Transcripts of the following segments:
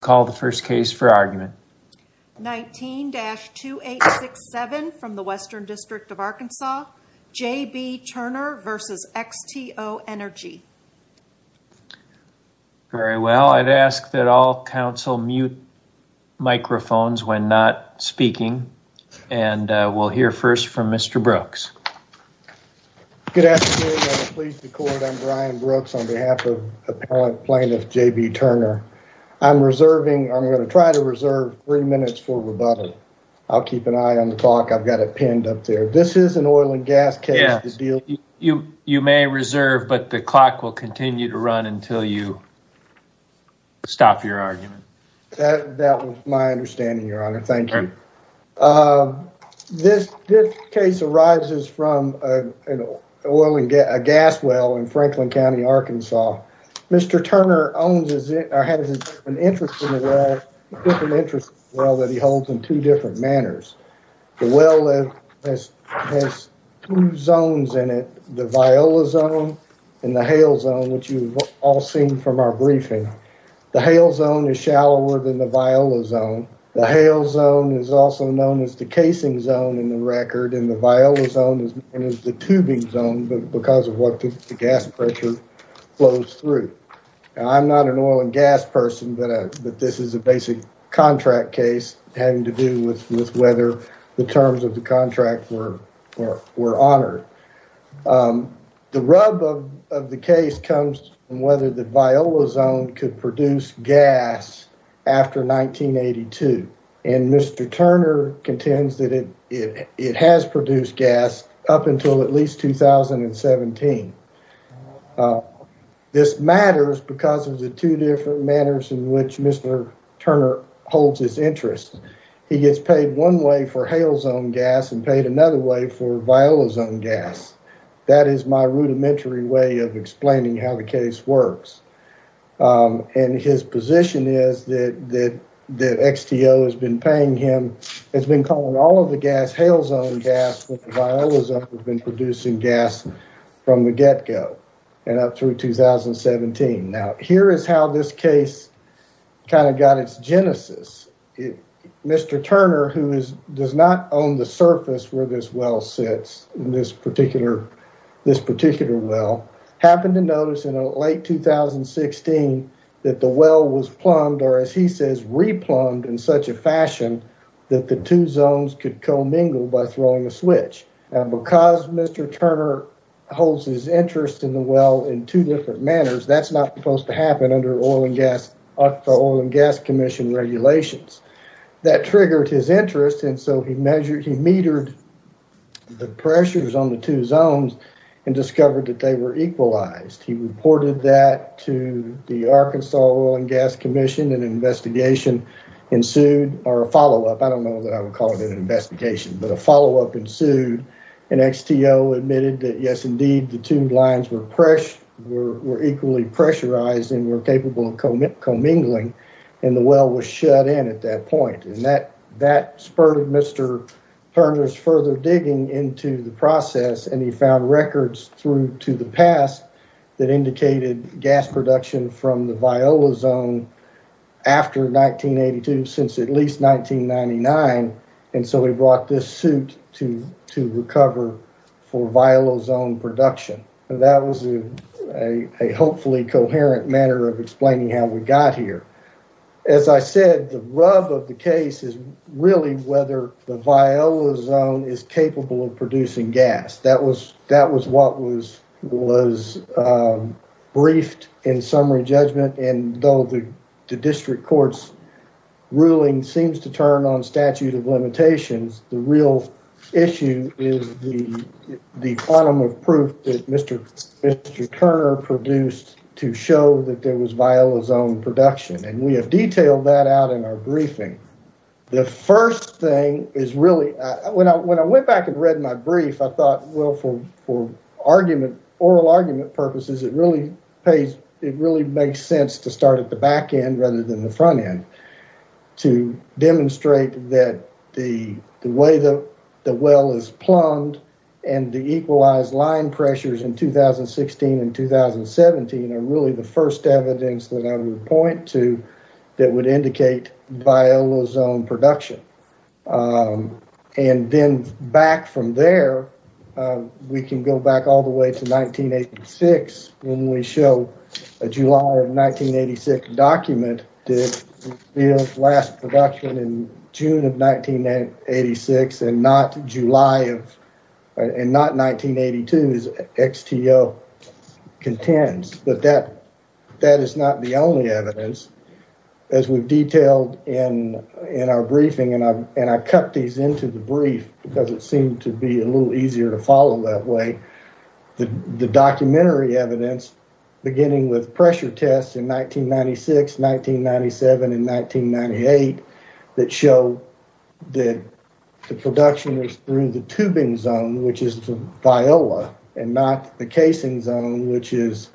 Call the first case for argument. 19-2867 from the Western District of Arkansas, J.B. Turner v. XTO Energy. Very well. I'd ask that all council mute microphones when not speaking. And we'll hear first from Mr. Brooks. Good afternoon. I'm Brian Brooks on behalf of appellate plaintiff J.B. Turner. I'm reserving, I'm going to try to reserve three minutes for rebuttal. I'll keep an eye on the clock. I've got it pinned up there. This is an oil and gas case. You, you may reserve, but the clock will continue to run until you stop your argument. That was my understanding, Your Honor. Thank you. Uh, this, this case arises from an oil and gas, a gas well in Franklin County, Arkansas. Mr. Turner owns or has an interest in a well, a different interest in a well that he holds in two different manners. The well has two zones in it, the viola zone and the hail zone, which you've all seen from our briefing. The hail zone is shallower than the viola zone. The hail zone is also known as the casing zone in the record. And the viola zone is known as the tubing zone because of what the gas pressure flows through. I'm not an oil and gas person, but, uh, but this is a basic contract case having to do with, with whether the terms of the contract were, were, were honored. Um, the rub of, of the case comes from whether the viola zone could produce gas after 1982 and Mr. Turner contends that it, it, it has produced gas up until at least 2017. Uh, this matters because of the two different manners in which Mr. Turner holds his interest. He gets paid one way for hail zone gas and paid another way for viola zone gas. That is my rudimentary way of explaining how the case works. Um, and his position is that, that the XTO has been paying him, has been calling all of the gas hail zone gas when the viola zone has been producing gas from the get-go and up through 2017. Now, here is how this case kind of got its genesis. Mr. Turner, who is, does not own the surface where this well sits in this particular, this particular well, happened to notice in late 2016 that the well was plumbed, or as he says, re-plumbed in such a fashion that the two zones could co-mingle by throwing a switch. And because Mr. Turner holds his interest in the well in two different manners, that's not supposed to happen under oil and gas, the oil and gas commission regulations. That triggered his interest. And so he measured, he metered the pressures on the two zones and discovered that they were equalized. He reported that to the Arkansas oil and gas commission and an investigation ensued, or a follow-up, I don't know that I would call it an investigation, but a follow-up ensued and XTO admitted that, yes, indeed, the two lines were presh, were equally pressurized and were capable of co-mingling and the well was shut in at that point. And that, that spurred Mr. Turner's further digging into the process. And he found records through to the past that indicated gas production from the Viola zone after 1982, since at least 1999. And so he brought this suit to, to recover for Viola zone production. And that was a, a hopefully coherent manner of explaining how we got here. As I said, the rub of the case is really whether the Viola zone is capable of producing gas. That was, that was what was, was briefed in summary judgment. And though the district court's ruling seems to turn on statute of limitations, the real issue is the, the quantum of proof that Mr. Turner produced to show that there was Viola zone production. And we have detailed that out in our briefing. The first thing is really, when I, when I went back and read my brief, I thought, well, for, for argument, oral argument purposes, it really pays, it really makes sense to start at the back end rather than the front end to demonstrate that the, the way that the well is plumbed and the equalized line pressures in 2016 and 2017 are really the first evidence that I would point to that would indicate Viola zone production. And then back from there, we can go back all the way to 1986 when we show a July of 1986 document, the last production in June of 1986 and not July of, and not 1982 as XTO contends, but that, that is not the only evidence as we've detailed in, in our briefing. And I, and I cut these into the brief because it seemed to be a little easier to follow that way. The, the documentary evidence beginning with pressure tests in 1996, 1997, and 1998 that show that the production is through the tubing zone, which is the Viola and not the casing zone, which is,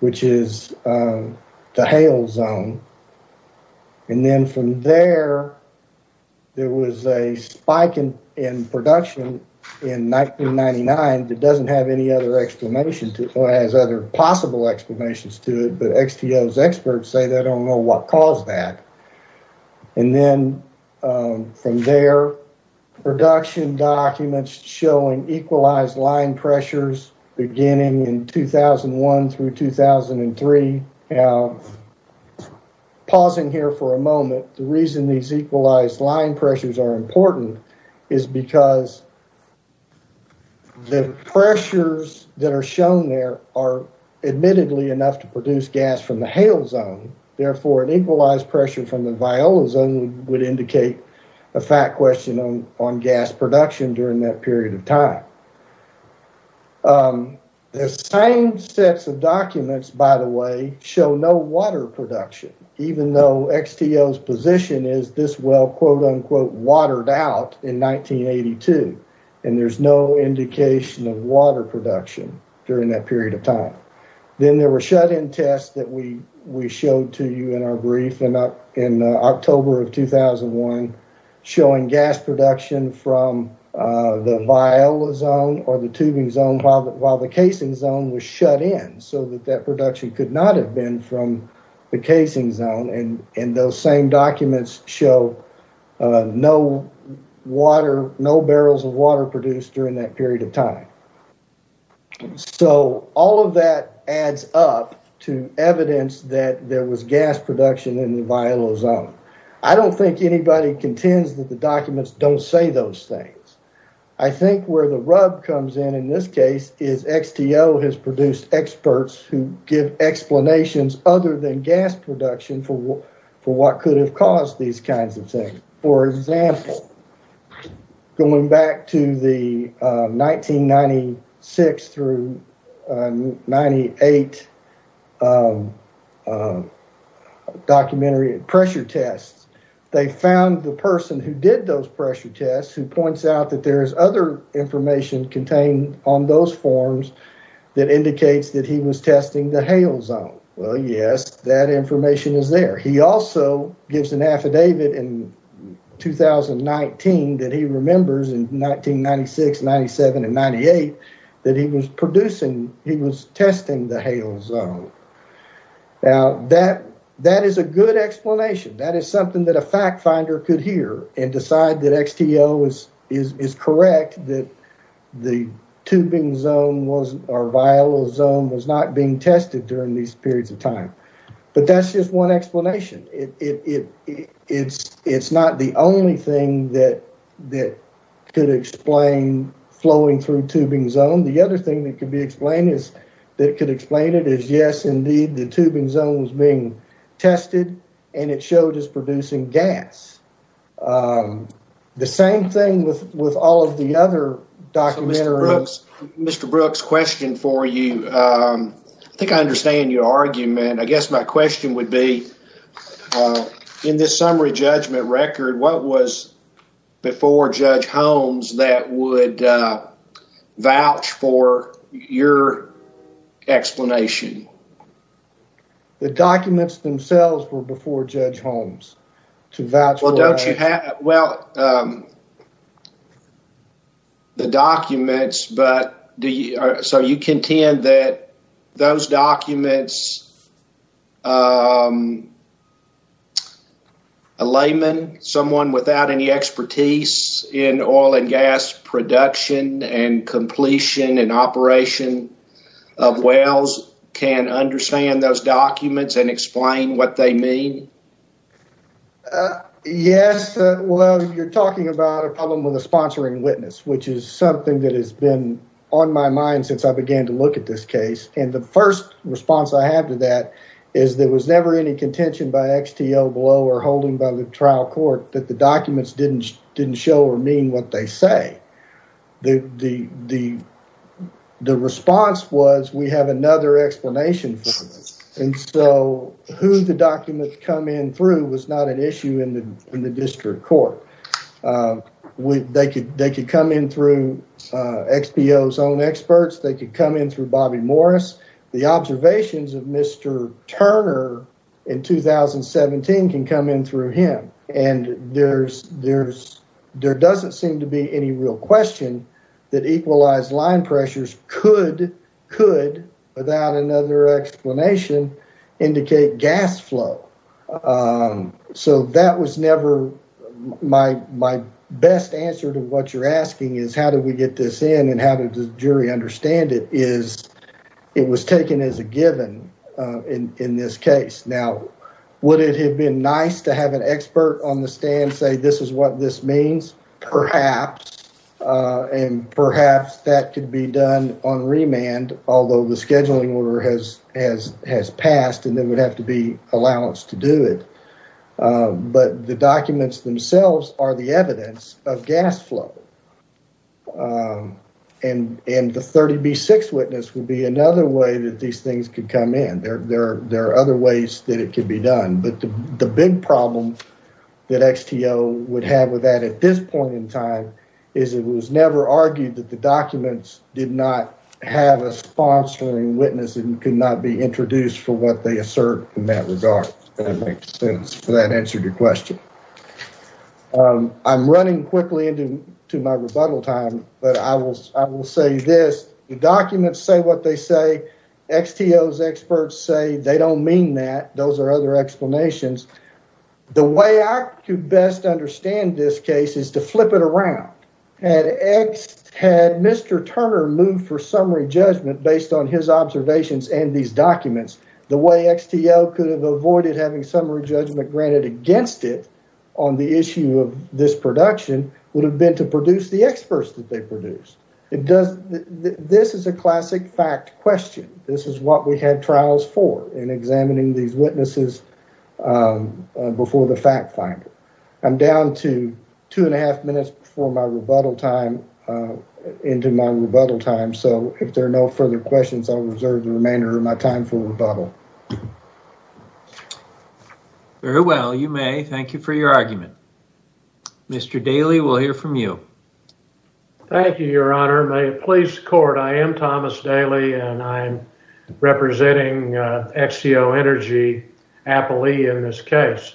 which is the hail zone. And then from there, there was a spike in, in production in 1999. It doesn't have any other explanation to it, or has other possible explanations to it, but XTO's experts say they don't know what caused that. And then from there, production documents showing equalized line pressures beginning in 2001 through 2003. Now pausing here for a moment, the reason these equalized line pressures are important is because the pressures that are shown there are admittedly enough to produce gas from the hail zone. Therefore, an equalized pressure from the Viola zone would indicate a fact question on, on gas production during that period of time. The same sets of documents, by the way, show no water production, even though XTO's position is this well, quote unquote, watered out in 1982. And there's no indication of water production during that period of time. Then there were shut-in tests that we, we showed to you in our brief in October of 2001, showing gas production from the Viola zone or the tubing zone while the, while the casing zone was shut in, so that that production could not have been from the casing zone. And, and those same documents show no water, no barrels of water produced during that period of time. So all of that adds up to evidence that there was gas production in the Viola zone. I don't think anybody contends that the documents don't say those things. I think where the rub comes in in this case is XTO has produced experts who give explanations other than gas production for, for what could have caused these kinds of things. For example, going back to the 1996 through 98 documentary pressure tests, they found the person who did those pressure tests, who points out that there's other information contained on those forms that indicates that he was testing the Hale zone. Well, yes, that information is there. He also gives an affidavit in 2019 that he remembers in 1996, 97, and 98 that he was producing, he was testing the Hale zone. Now that, that is a good explanation. That is something that a fact finder could hear and decide that XTO is, is, is being tested during these periods of time. But that's just one explanation. It, it, it, it's, it's not the only thing that, that could explain flowing through tubing zone. The other thing that could be explained is that it could explain it as yes, indeed, the tubing zone was being tested and it showed as producing gas. The same thing with, with all of the other documentary. Mr. Brooks, question for you. I think I understand your argument. I guess my question would be, in this summary judgment record, what was before Judge Holmes that would vouch for your explanation? The documents themselves were before Judge Holmes to vouch for. Well, the documents, but do you, so you contend that those documents, a layman, someone without any expertise in oil and gas production and completion and operation of wells can understand those documents and explain what they mean? Yes. Well, you're talking about a problem with a sponsoring witness, which is something that has been on my mind since I began to look at this case. And the first response I have to that is there was never any contention by XTO below or holding by the trial court that the documents didn't, didn't show or mean what they say. The, the, the, the response was, we have another explanation for this. And so who the documents come in through was not an issue in the, in the district court with, they could, they could come in through XBO's own experts. They could come in through Bobby Morris. The observations of Mr. Turner in 2017 can come in through him and there's, there's, there doesn't seem to be any real question that equalized line pressures could, could without another explanation indicate gas flow. So that was never my, my best answer to what you're asking is how did we get this in and how did the jury understand it is it was taken as a given in, in this case. Now, would it have been nice to have an expert on the stand say, this is what this means, perhaps, and perhaps that could be done on remand, although the scheduling order has, has, has passed and then would have to be allowance to do it. But the documents themselves are the evidence of gas flow. And, and the 30B6 witness would be another way that these things could come in. There, there, there are other ways that it could be done, but the big problem that XTO would have with that at this point in time is it was never argued that the witness could not be introduced for what they assert in that regard. That makes sense. So that answered your question. I'm running quickly into my rebuttal time, but I will, I will say this, the documents say what they say, XTO's experts say they don't mean that. Those are other explanations. The way I could best understand this case is to flip it around. Had X, had Mr. Turner moved for summary judgment based on his observations and these documents, the way XTO could have avoided having summary judgment granted against it on the issue of this production would have been to produce the experts that they produced. It does, this is a classic fact question. This is what we had trials for in examining these witnesses before the fact finder. I'm down to two and a half minutes before my rebuttal time, into my rebuttal time. So if there are no further questions, I'll reserve the remainder of my time for rebuttal. Very well. You may. Thank you for your argument. Mr. Daly, we'll hear from you. Thank you, your honor. May it please the court. I am Thomas Daly and I'm representing XTO Energy aptly in this case.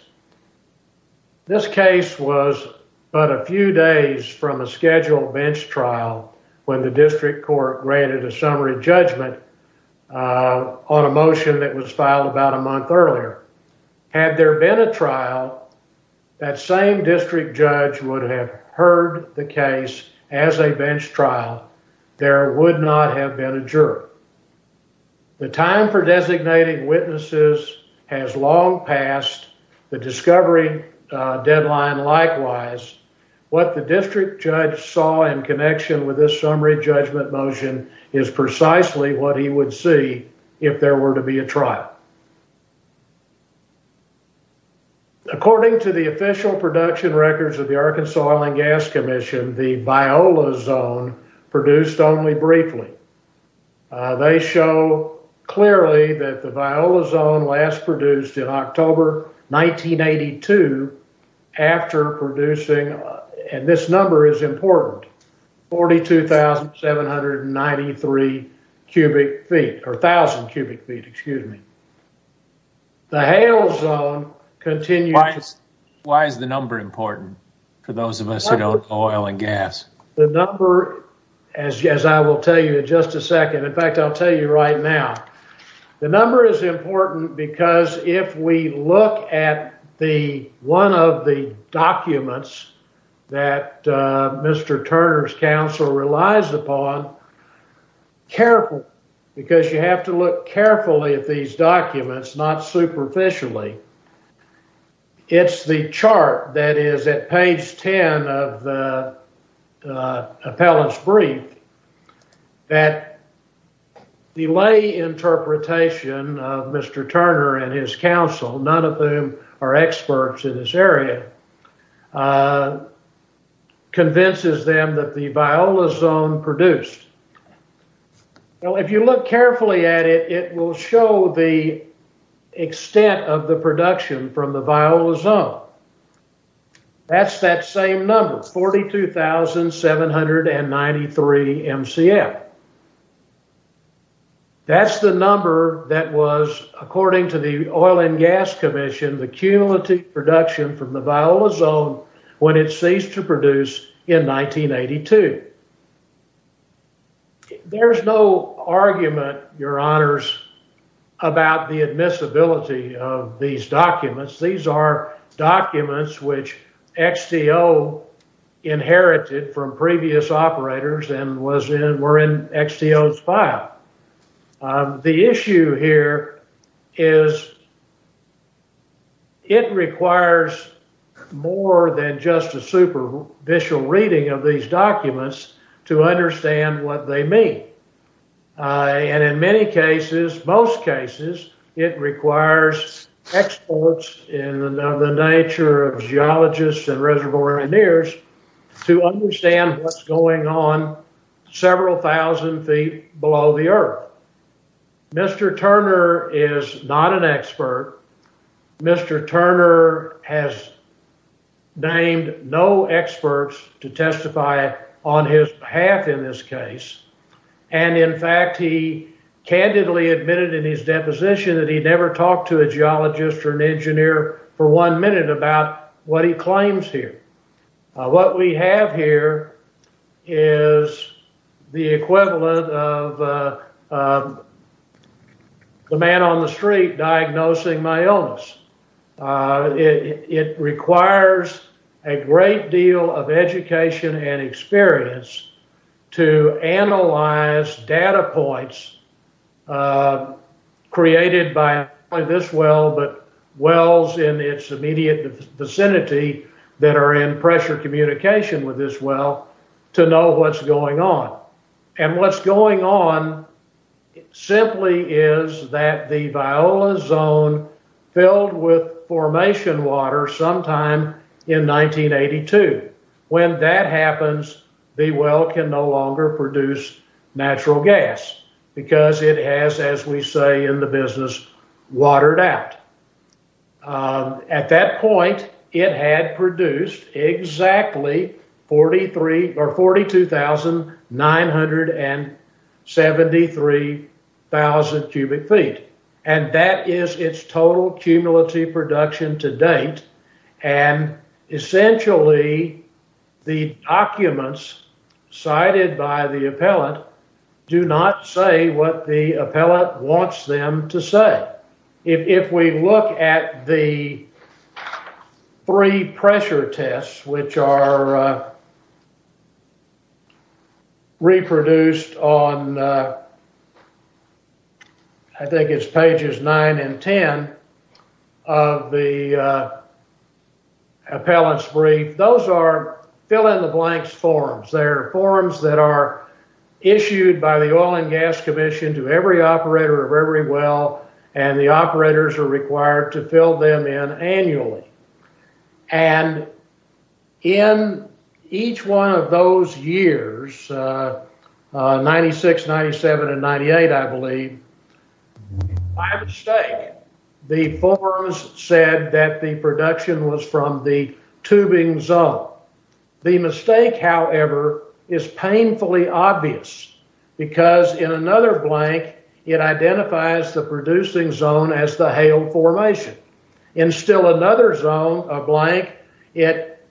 This case was but a few days from a scheduled bench trial when the district court granted a summary judgment on a motion that was filed about a month earlier. Had there been a trial, that same district judge would have heard the case as a bench trial. There would not have been a juror. The time for designating witnesses has long passed the discovery deadline. Likewise, what the district judge saw in connection with this summary judgment motion is precisely what he would see if there were to be a trial. According to the official production records of the Arkansas Oil and Gas they show clearly that the Viola zone last produced in October 1982 after producing, and this number is important, 42,793 cubic feet or thousand cubic feet, excuse me. The Hale zone continued. Why is the number important for those of us who don't know oil and gas? The number, as I will tell you in just a second. In fact, I'll tell you right now. The number is important because if we look at the one of the documents that Mr. Turner's counsel relies upon carefully, because you have to look carefully at these documents, not superficially. It's the chart that is at page 10 of the appellate's brief that the lay interpretation of Mr. Turner and his counsel, none of them are experts in this area, convinces them that the Viola zone produced. Now, if you look carefully at it, it will show the extent of the production from the Viola zone. That's that same number, 42,793 MCF. That's the number that was, according to the oil and gas commission, the cumulative production from the Viola zone when it ceased to produce in 1982. There's no argument, your honors, about the admissibility of these documents. These are documents which XTO inherited from previous operators and were in XTO's file. The issue here is it requires more than just a superficial reading of these documents to understand what they mean. And in many cases, most cases, it requires experts in the nature of geologists and reservoir engineers to understand what's going on several thousand feet below the earth. Mr. Turner is not an expert. Mr. Turner has named no experts to testify on his behalf in this case. And in fact, he candidly admitted in his deposition that he never talked to a geologist or an engineer for one minute about what he claims here. What we have here is the equivalent of the man on the street diagnosing my illness. It requires a great deal of education and experience to analyze data points created by not only this well, but wells in its immediate vicinity that are in pressure communication with this well to know what's going on. And what's going on simply is that the Viola zone filled with formation water sometime in 1982. When that happens, the well can no longer produce natural gas because it has, as we say in the business, watered out. At that point, it had produced exactly 42,973,000 cubic feet, and that is its total cumulative production to date. And essentially the documents cited by the appellant do not say what the appellant wants them to say. If we look at the three pressure tests, which are reproduced on, I think it's pages 9 and 10 of the appellant's brief, those are fill-in-the-blanks forms. They're forms that are issued by the Oil and Gas Commission to every operator of every well, and the operators are required to fill them in annually. And in each one of those years, 96, 97, and 98, I believe, by mistake, the forms said that the production was from the tubing zone. The mistake, however, is painfully obvious because in another blank, it identifies the producing zone as the hail formation. In still another zone, a blank, it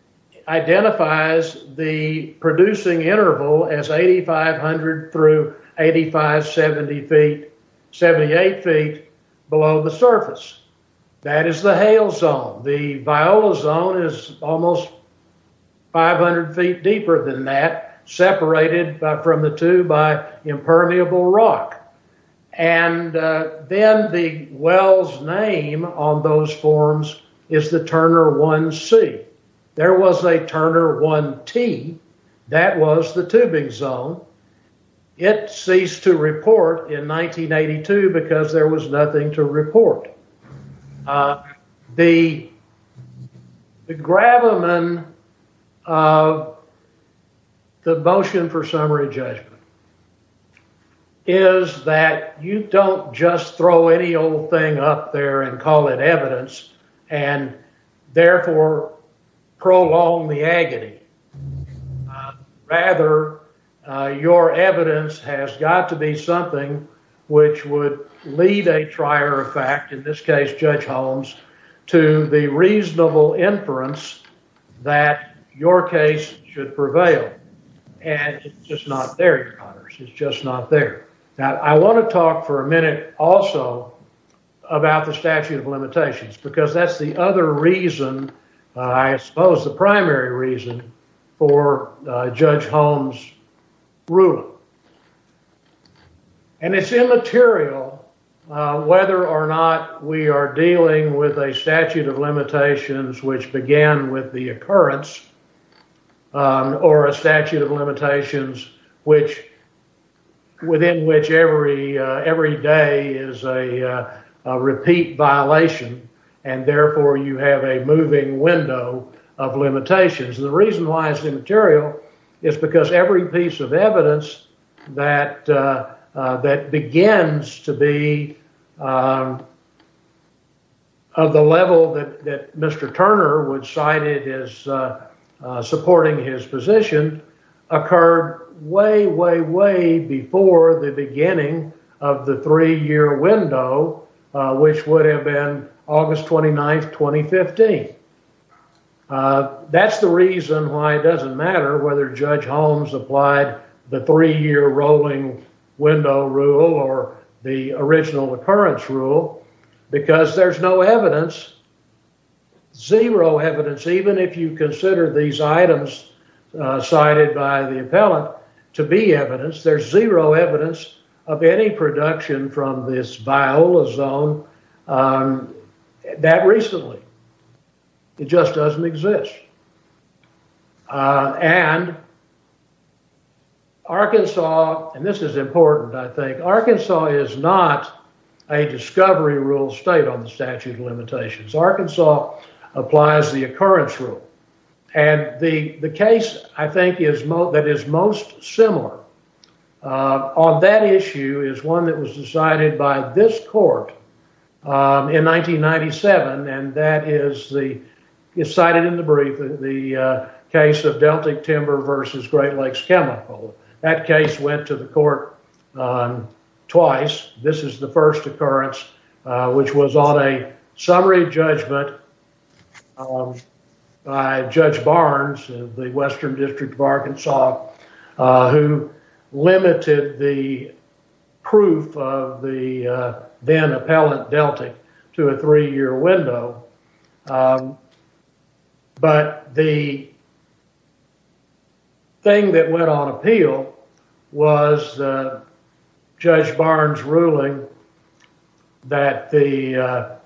identifies the producing interval as 8,500 through 8,578 feet below the surface. That is the hail zone. The viola zone is almost 500 feet deeper than that, separated from the two by impermeable rock. And then the well's name on those forms is the Turner 1C. There was a Turner 1T. That was the tubing zone. It ceased to report in 1982 because there was nothing to report. The gravamen of the motion for summary judgment is that you don't just throw any old thing up there and call it evidence and therefore prolong the agony. Rather, your evidence has got to be something which would lead a trier of fact, in this case, Judge Holmes, to the reasonable inference that your case should prevail. And it's just not there, Your Honors. It's just not there. Now, I want to talk for a minute also about the statute of limitations because that's the other reason, I suppose, the primary reason for Judge Holmes' ruling. And it's immaterial whether or not we are dealing with a statute of limitations which began with the occurrence or a statute of limitations within which every day is a repeat violation and therefore you have a moving window of limitations. The reason why it's immaterial is because every piece of evidence that begins to be of the level that Mr. Turner cited as supporting his position occurred way, way, way before the beginning of the three-year window, which would have been August 29, 2015. That's the reason why it doesn't matter whether Judge Holmes applied the three-year rolling window rule or the original occurrence rule because there's no evidence, zero evidence, even if you consider these items cited by the appellant to be evidence, there's zero evidence of any production from this viola zone that recently. It just doesn't exist. And Arkansas, and this is important, I think, Arkansas is not a discovery rule state on the statute of limitations. Arkansas applies the occurrence rule and the case, I think, that is most similar on that issue is one that was decided by this court in 1997 and that is the cited in the brief, the case of Deltic Timber versus Great Lakes Chemical. That case went to the court twice. This is the first occurrence which was on a summary judgment by Judge Barnes of the Western District of Arkansas who limited the proof of the then appellant to a three-year window. But the thing that went on appeal was Judge Barnes' ruling that the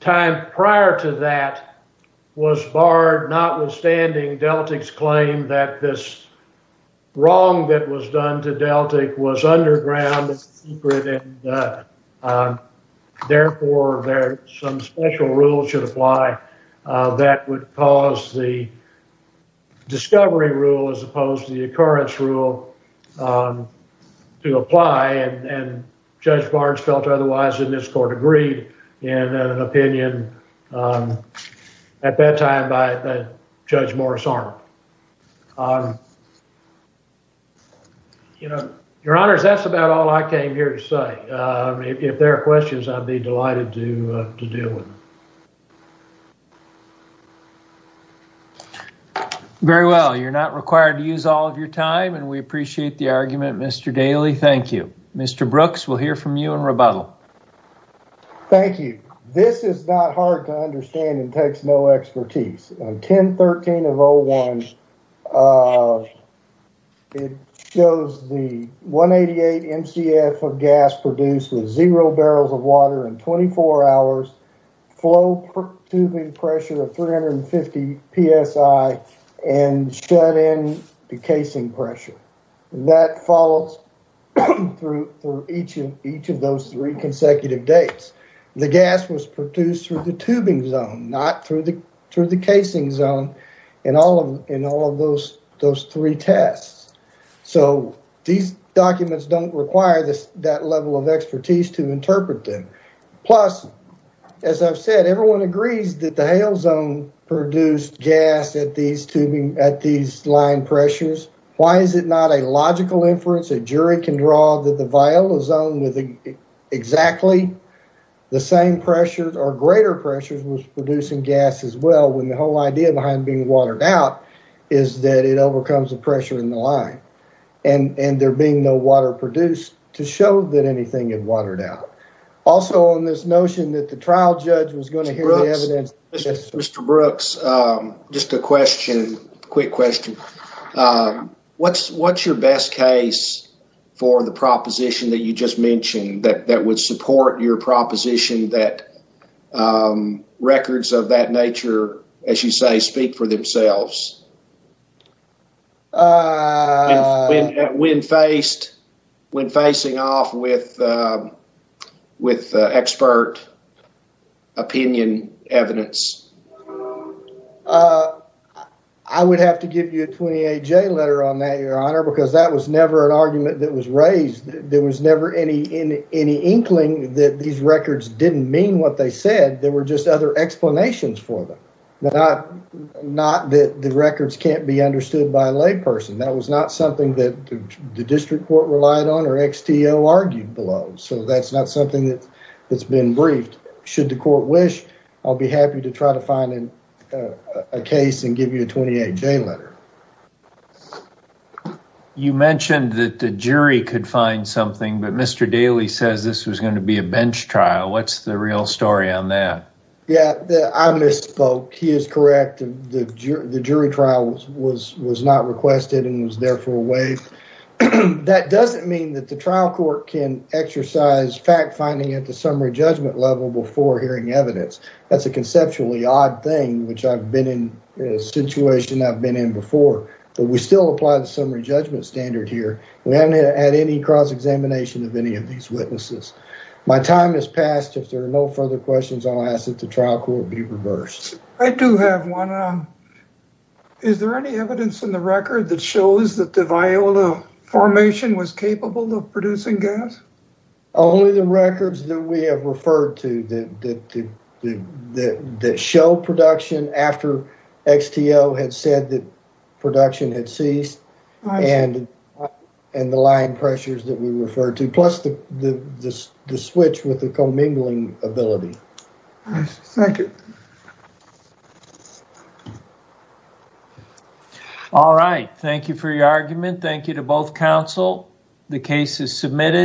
time prior to that was barred notwithstanding Deltic's claim that this wrong that was done to Deltic was underground and secret and therefore there's some special rules should apply that would cause the discovery rule as opposed to the occurrence rule to apply and Judge Barnes felt otherwise in this court agreed in an opinion at that time by Judge Morris Arnold. Your Honor, that's about all I came here to say. If there are questions, I'd be delighted to deal with them. Very well. You're not required to use all of your time and we appreciate the argument, Mr. Daly. Thank you. Mr. Brooks, we'll hear from you in rebuttal. Thank you. This is not hard to understand and takes no expertise. 1013 of 01, it shows the 188 MCF of gas produced with zero barrels of water in 24 hours, flow tubing pressure of 350 psi and shut in the casing pressure. That follows through each of those three consecutive dates. The gas was produced through the tubing zone, not through the casing zone in all of those three tests. So, these documents don't require that level of expertise to interpret them. Plus, as I've said, everyone agrees that the hail zone produced gas at these line pressures. Why is it not a logical inference a jury can draw that the viola zone with exactly the same pressures or greater pressures was producing gas as well, when the whole idea behind being watered out is that it overcomes the pressure in the line and there being no water produced to show that anything had watered out. Also, on this notion that the trial judge was going to hear the evidence. Mr. Brooks, just a quick question. What's your best case for the proposition that you just mentioned that would support your proposition that records of that nature, as you say, speak for themselves? When facing off with expert opinion evidence? Uh, I would have to give you a 28-J letter on that, Your Honor, because that was never an argument that was raised. There was never any inkling that these records didn't mean what they said. There were just other explanations for them. Not that the records can't be understood by a layperson. That was not something that the district court relied on or XTO argued below. So, that's not something that's been briefed. Should the court wish, I'll be happy to try to find a case and give you a 28-J letter. You mentioned that the jury could find something, but Mr. Daley says this was going to be a bench trial. What's the real story on that? Yeah, I misspoke. He is correct. The jury trial was not requested and was therefore waived. That doesn't mean that the trial court can exercise fact-finding at the summary judgment level before hearing evidence. That's a conceptually odd thing, which I've been in a situation I've been in before. But we still apply the summary judgment standard here. We haven't had any cross-examination of any of these witnesses. My time has passed. If there are no further questions, I'll ask that the trial court be reversed. I do have one. Is there any evidence in the record that shows that the Viola formation was capable of producing gas? Only the records that we have referred to that show production after XTO had said that production had ceased and the line pressures that we referred to, plus the switch with the commingling ability. Thank you. All right. Thank you for your argument. Thank you to both counsel. The case is submitted.